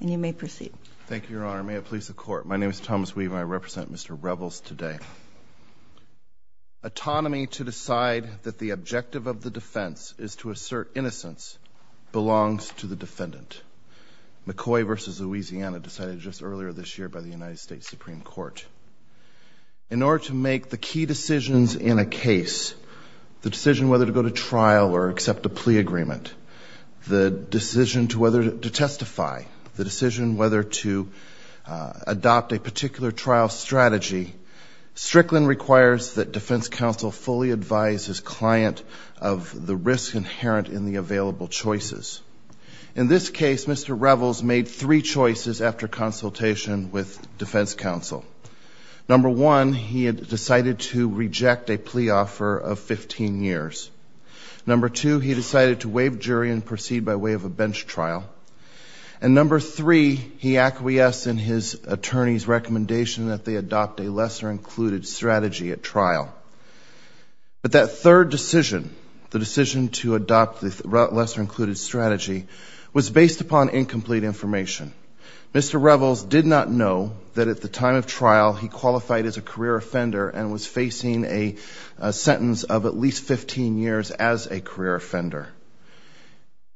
Thank you, Your Honor. May it please the Court, my name is Thomas Weave and I represent Mr. Revels today. Autonomy to decide that the objective of the defense is to assert innocence belongs to the defendant. McCoy v. Louisiana decided just earlier this year by the United States Supreme Court. In order to make the key decisions in a case, the decision whether to go to trial or accept a plea agreement, the decision to testify, the decision whether to adopt a particular trial strategy, Strickland requires that defense counsel fully advise his client of the risk inherent in the available choices. In this case, Mr. Revels made three choices after consultation with defense counsel. Number one, he had decided to reject a plea offer of 15 years. Number two, he decided to waive jury and proceed by way of a bench trial. And number three, he acquiesced in his attorney's recommendation that they adopt a lesser included strategy at trial. But that third decision, the decision to adopt the lesser included strategy, was based upon incomplete information. Mr. Revels did not know that at the time of trial he qualified as a career offender and was facing a sentence of at least 15 years as a career offender.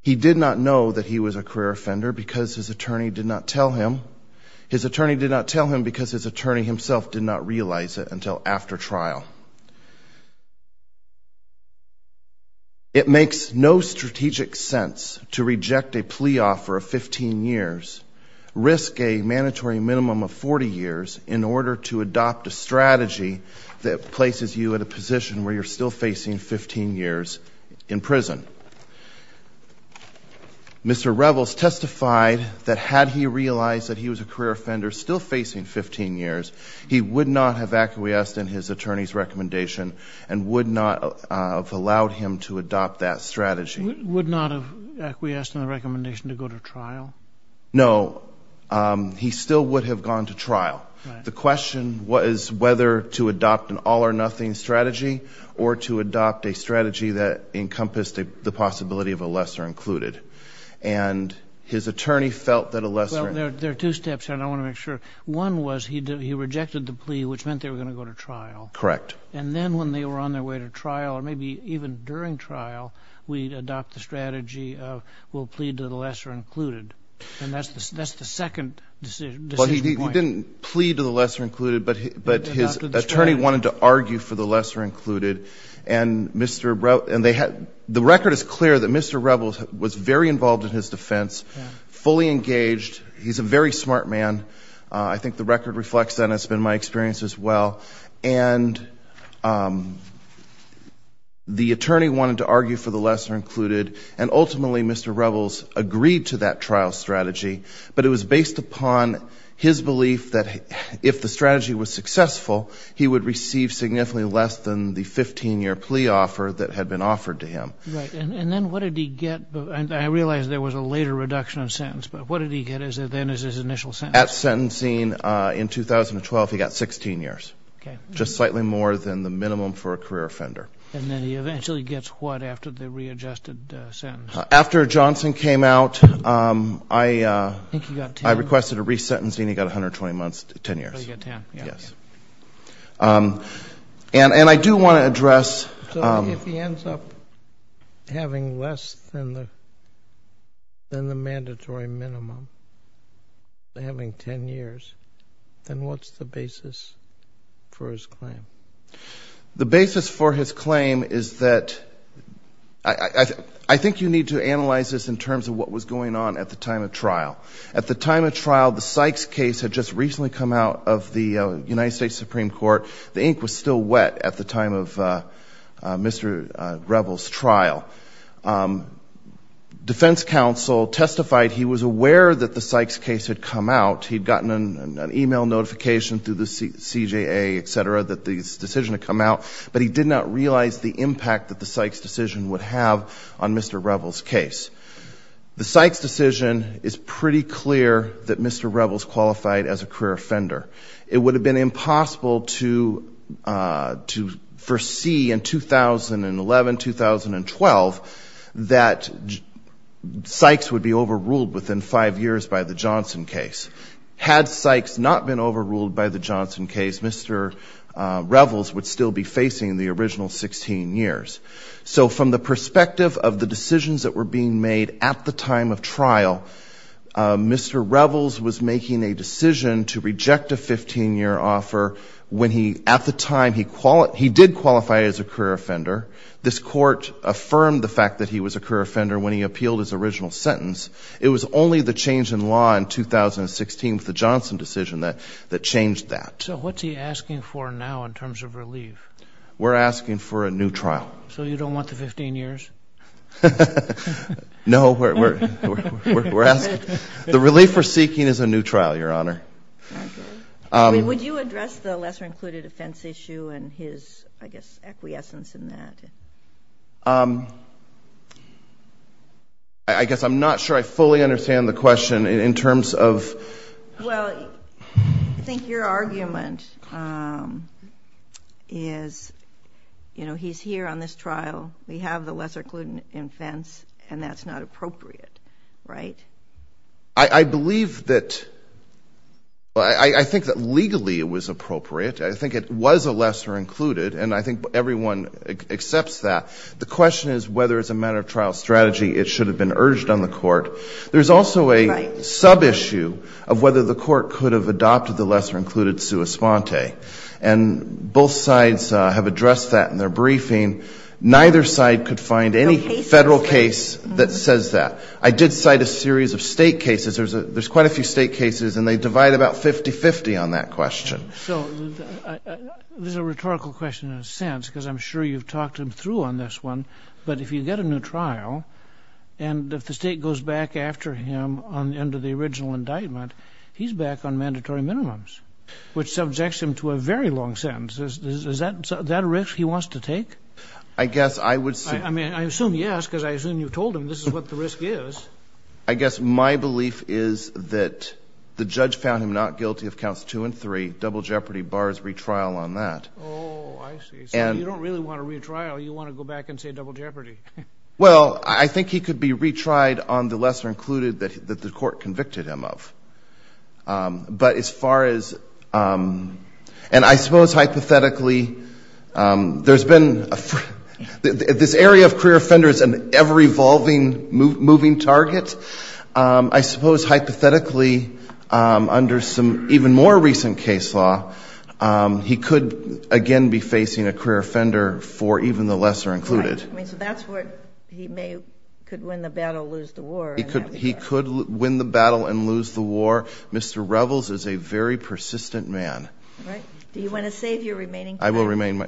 He did not know that he was a career offender because his attorney did not tell him. His attorney did not tell him because his attorney himself did not realize it until after trial. It makes no strategic sense to reject a plea offer of 15 years, risk a mandatory minimum of 40 years in order to adopt a strategy that places you at a position where you're still facing 15 years in prison. Mr. Revels testified that had he realized that he was a career offender still facing 15 years, he would not have acquiesced in his attorney's recommendation and would not have allowed him to adopt that strategy. Would not have acquiesced in the recommendation to go to trial? No. He still would have gone to trial. The question was whether to adopt an all or nothing strategy or to adopt a strategy that encompassed the possibility of a lesser included. And his attorney felt that a lesser... Well, there are two steps and I want to make sure. One was he rejected the plea which meant they were going to go to trial. Correct. And then when they were on their way to trial or maybe even during trial, we'd adopt the strategy of we'll plead to the lesser included. And that's the second decision. He didn't plead to the lesser included, but his attorney wanted to argue for the lesser included. The record is clear that Mr. Revels was very involved in his defense, fully engaged. He's a very smart man. I think the record reflects that and it's been my experience as well. And the attorney wanted to argue for the lesser included and ultimately Mr. Revels agreed to that trial strategy. But it was based upon his belief that if the strategy was successful, he would receive significantly less than the 15-year plea offer that had been offered to him. Right. And then what did he get? I realize there was a later reduction in sentence, but what did he get then as his initial sentence? At sentencing in 2012, he got 16 years, just slightly more than the minimum for a career offender. And then he eventually gets what after the readjusted sentence? I requested a resentencing, he got 120 months, 10 years. And I do want to address... So if he ends up having less than the mandatory minimum, having 10 years, then what's the basis for his claim? The basis for his claim is that, I think you need to analyze this in terms of what was going on at the time of trial. At the time of trial, the Sykes case had just recently come out of the United States Supreme Court. The ink was still wet at the time of Mr. Revels' trial. Defense counsel testified he was aware that the Sykes case had come out. He'd gotten an email notification through the CJA, et cetera, that the decision had come out, but he did not realize the impact that the Sykes decision would have on Mr. Revels' case. The Sykes decision is pretty clear that Mr. Revels qualified as a career offender. It would have been impossible to foresee in 2011, 2012, that Sykes would be overruled within five years by the Johnson case. Had Sykes not been overruled by the Johnson case, Mr. Revels would still be facing the original 16 years. So from the perspective of the decisions that were being made at the time of trial, Mr. Revels was making a decision to reject a 15-year offer when he, at the time, he did qualify as a career offender. This court affirmed the fact that he was a career offender when he appealed his original sentence. It was only the change in law in 2016 with the Johnson decision that changed that. So what's he asking for now in terms of relief? We're asking for a new trial. So you don't want the 15 years? No. The relief we're seeking is a new trial, Your Honor. Would you address the lesser-included offense issue and his, I guess, acquiescence in that? I guess I'm not sure I fully understand the question in terms of... Well, I think your argument is, you know, he's here on this trial, we have the lesser-included offense, and that's not appropriate, right? I believe that, well, I think that legally it was appropriate. I think it was a lesser-included, and I think everyone accepts that. The question is whether, as a matter of trial strategy, it should have been urged on the court. There's also a sub-issue of whether the court could have adopted the lesser-included sua sponte, and both sides have addressed that in their briefing. Neither side could find any Federal case that says that. I did cite a series of State cases. There's quite a few State cases, and they divide about 50-50 on that question. So there's a rhetorical question in a sense, because I'm sure you've talked him through on this one. But if you get a new trial, and if the State goes back after him under the original indictment, he's back on mandatory minimums, which subjects him to a very long sentence. Is that a risk he wants to take? I mean, I assume yes, because I assume you've told him this is what the risk is. I guess my belief is that the judge found him not guilty of counts 2 and 3. Double jeopardy bars retrial on that. Oh, I see. So you don't really want a retrial. You want to go back and say double jeopardy. Well, I think he could be retried on the lesser-included that the court convicted him of. But as far as — and I suppose hypothetically, there's been — this area of career offender is an ever-evolving, moving target. I suppose hypothetically, under some even more recent case law, he could, again, be facing a career offender for even the lesser-included. Right. I mean, so that's what he may — could win the battle, lose the war. He could win the battle and lose the war. Mr. Revels is a very persistent man. Right. Do you want to save your remaining time?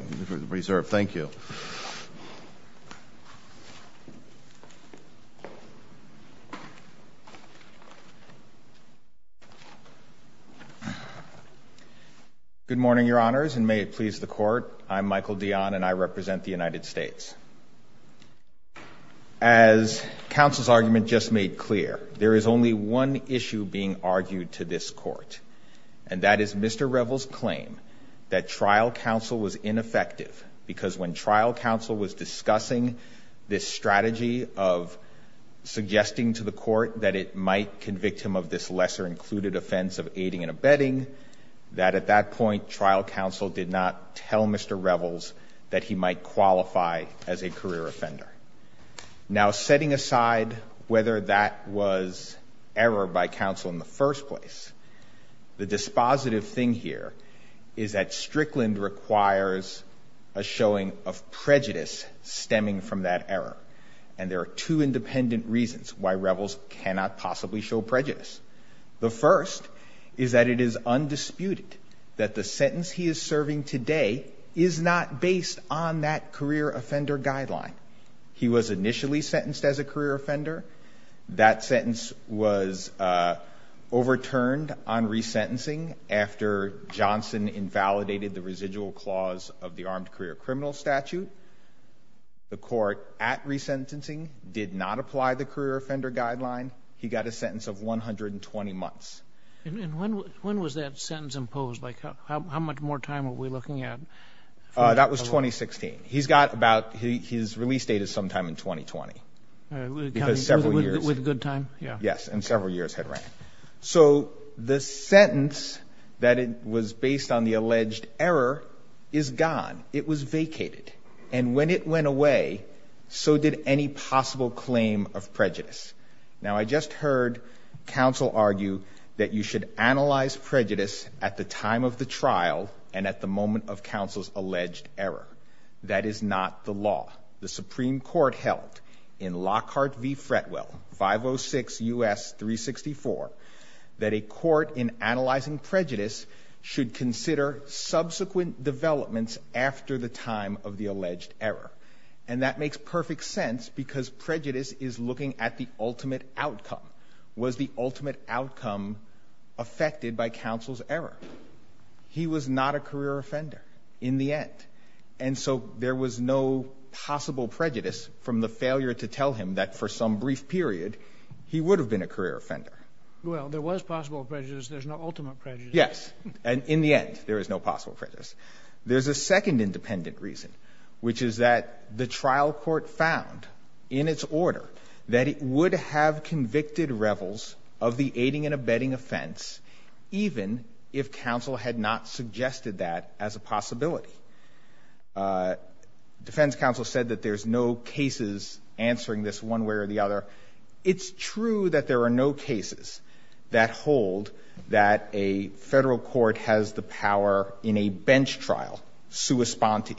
Good morning, Your Honors, and may it please the Court. I'm Michael Dionne, and I represent the United States. As counsel's argument just made clear, there is only one issue being argued to this Court, and that is Mr. Revels' claim that trial counsel was ineffective, because when trial counsel was discussing this strategy of suggesting to the Court that it might convict him of this lesser-included offense of aiding and abetting, that at that point, trial counsel did not tell Mr. Revels that he might qualify as a career offender. Now, setting aside whether that was error by counsel in the first place, the dispositive thing here is that Strickland requires a showing of prejudice stemming from that error, and there are two independent reasons why Revels cannot possibly show prejudice. The first is that it is undisputed that the sentence he is serving today is not based on evidence. It is based on that career offender guideline. He was initially sentenced as a career offender. That sentence was overturned on resentencing after Johnson invalidated the residual clause of the armed career criminal statute. The Court, at resentencing, did not apply the career offender guideline. He got a sentence of 120 months. And when was that sentence imposed? How much more time were we looking at? That was 2016. He's got about — his release date is sometime in 2020, because several years. With good time? Yeah. Yes, and several years had ran. So the sentence that was based on the alleged error is gone. It was vacated. And when it went away, so did any possible claim of prejudice. Now, I just heard counsel argue that you should analyze prejudice at the time of the trial and at the moment of counsel's alleged error. That is not the law. The Supreme Court held in Lockhart v. Fretwell, 506 U.S. 364, that a court in analyzing prejudice should consider subsequent developments after the time of the alleged error. And that makes perfect sense, because prejudice is looking at the ultimate outcome. Was the ultimate outcome affected by counsel's error? He was not a career offender in the end. And so there was no possible prejudice from the failure to tell him that for some brief period, he would have been a career offender. Well, there was possible prejudice. There's no ultimate prejudice. Yes. And in the end, there is no possible prejudice. There's a second independent reason, which is that the trial court found in its order that it would have convicted revels of the aiding and abetting offense, even if counsel had not suggested that as a possibility. Defense counsel said that there's no cases answering this one way or the other. It's true that there are no cases that hold that a federal court has the power in a bench trial, sua sponte,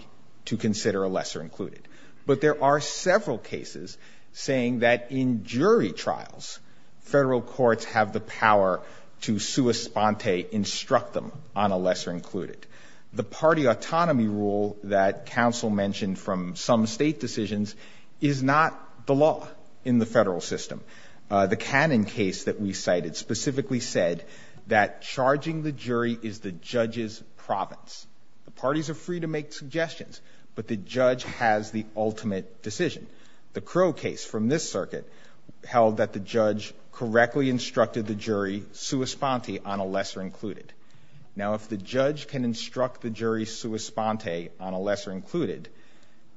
to consider a lesser included. But there are several cases saying that in jury trials, federal courts have the power to sua sponte instruct them on a lesser included. The party autonomy rule that counsel mentioned from some state decisions is not the law in the federal system. The Cannon case that we cited specifically said that charging the jury is the judge's province. The parties are free to make suggestions, but the judge has the ultimate decision. The Crow case from this circuit held that the judge correctly instructed the jury sua sponte on a lesser included. Now, if the judge can instruct the jury sua sponte on a lesser included,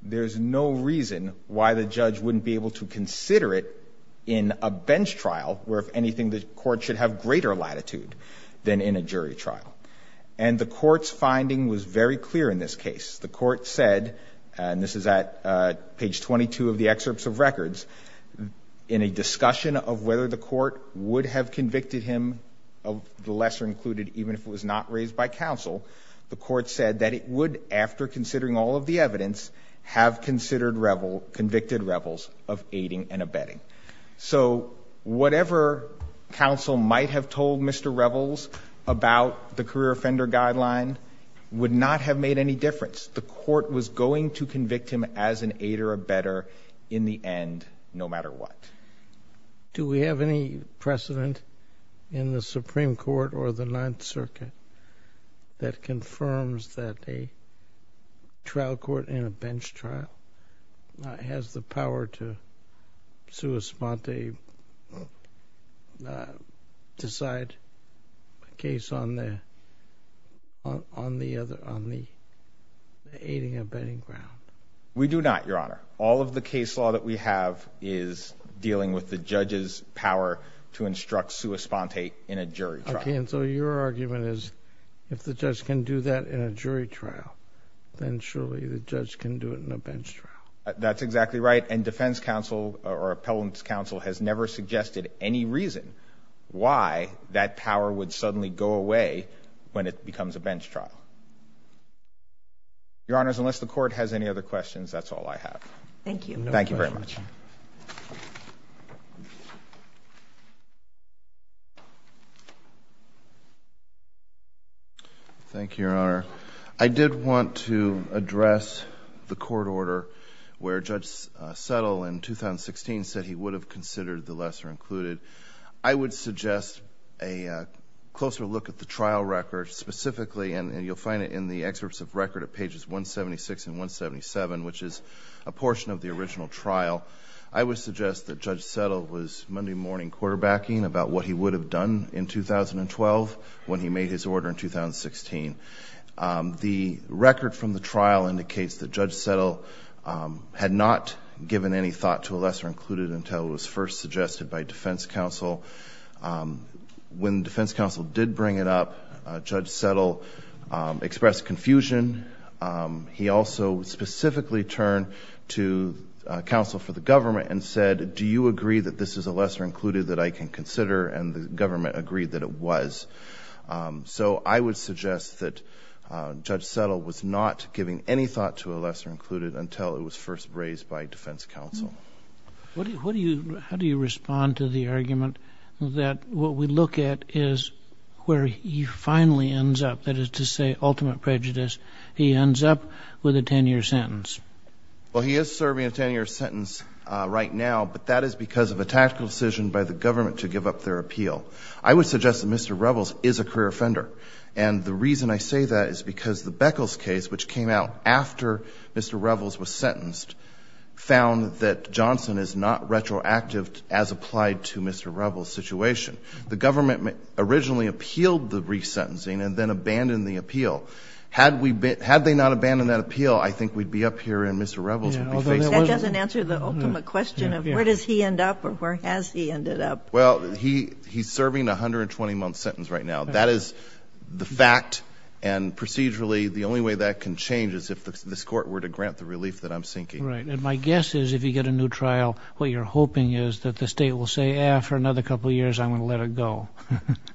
there's no reason why the judge wouldn't be able to consider it in a bench trial, where, if anything, the court should have greater latitude than in a jury trial. And the court's finding was very clear in this case. The court said, and this is at page 22 of the excerpts of records, in a discussion of whether the court would have convicted him of the lesser included, even if it was not raised by counsel, the court said that it would, after considering all of the evidence, have considered, convicted Revels of aiding and abetting. So whatever counsel might have told Mr. Revels about the career offender guideline would not have made any difference. The court was going to convict him as an aider or abetter in the end, no matter what. Do we have any precedent in the Supreme Court or the Ninth Circuit that confirms that a trial court in abetting in a bench trial has the power to sua sponte decide a case on the aiding and abetting ground? We do not, Your Honor. All of the case law that we have is dealing with the judge's power to instruct sua sponte in a jury trial. Okay, and so your argument is if the judge can do that in a jury trial, then surely the judge can do it in a bench trial. That's exactly right, and defense counsel or appellant's counsel has never suggested any reason why that power would suddenly go away when it becomes a bench trial. Your Honors, unless the court has any other questions, that's all I have. Thank you, Your Honor. I did want to address the court order where Judge Settle in 2016 said he would have considered the lesser included. I would suggest a closer look at the trial record specifically, and you'll find it in the excerpts of record at pages 176 and 177, which is a portion of the original trial. I would suggest that Judge Settle was Monday morning quarterbacking about what he would have done in 2012 when he made his order in 2016. The record from the trial indicates that Judge Settle had not given any thought to a lesser included until it was first suggested by defense counsel. When defense counsel did bring it up, Judge Settle expressed confusion. He also specifically turned to counsel for the government and said, do you agree that this is a lesser included that I can consider, and the government agreed that it was. So I would suggest that Judge Settle was not giving any thought to a lesser included until it was first raised by defense counsel. How do you respond to the argument that what we look at is where he finally ends up, that is to say ultimate prejudice, he ends up with a 10-year sentence? Well, he is serving a 10-year sentence right now, but that is because of a tactical decision by the government to give up their appeal. I would suggest that Mr. Revels is a career offender, and the reason I say that is because the Beckles case, which came out after Mr. Revels was sentenced, found that Johnson is not retroactive in his decision. The government originally appealed the resentencing and then abandoned the appeal. Had they not abandoned that appeal, I think we'd be up here and Mr. Revels would be facing... That doesn't answer the ultimate question of where does he end up or where has he ended up. Well, he's serving a 120-month sentence right now. That is the fact, and procedurally the only way that can change is if this court were to grant the relief that I'm seeking. Right, and my guess is if you get a new trial, what you're hoping is that the state will say, for another couple of years I'm going to let it go.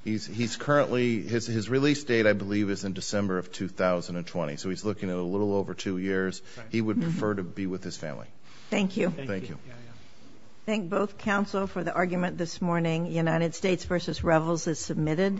His release date, I believe, is in December of 2020, so he's looking at a little over two years. He would prefer to be with his family.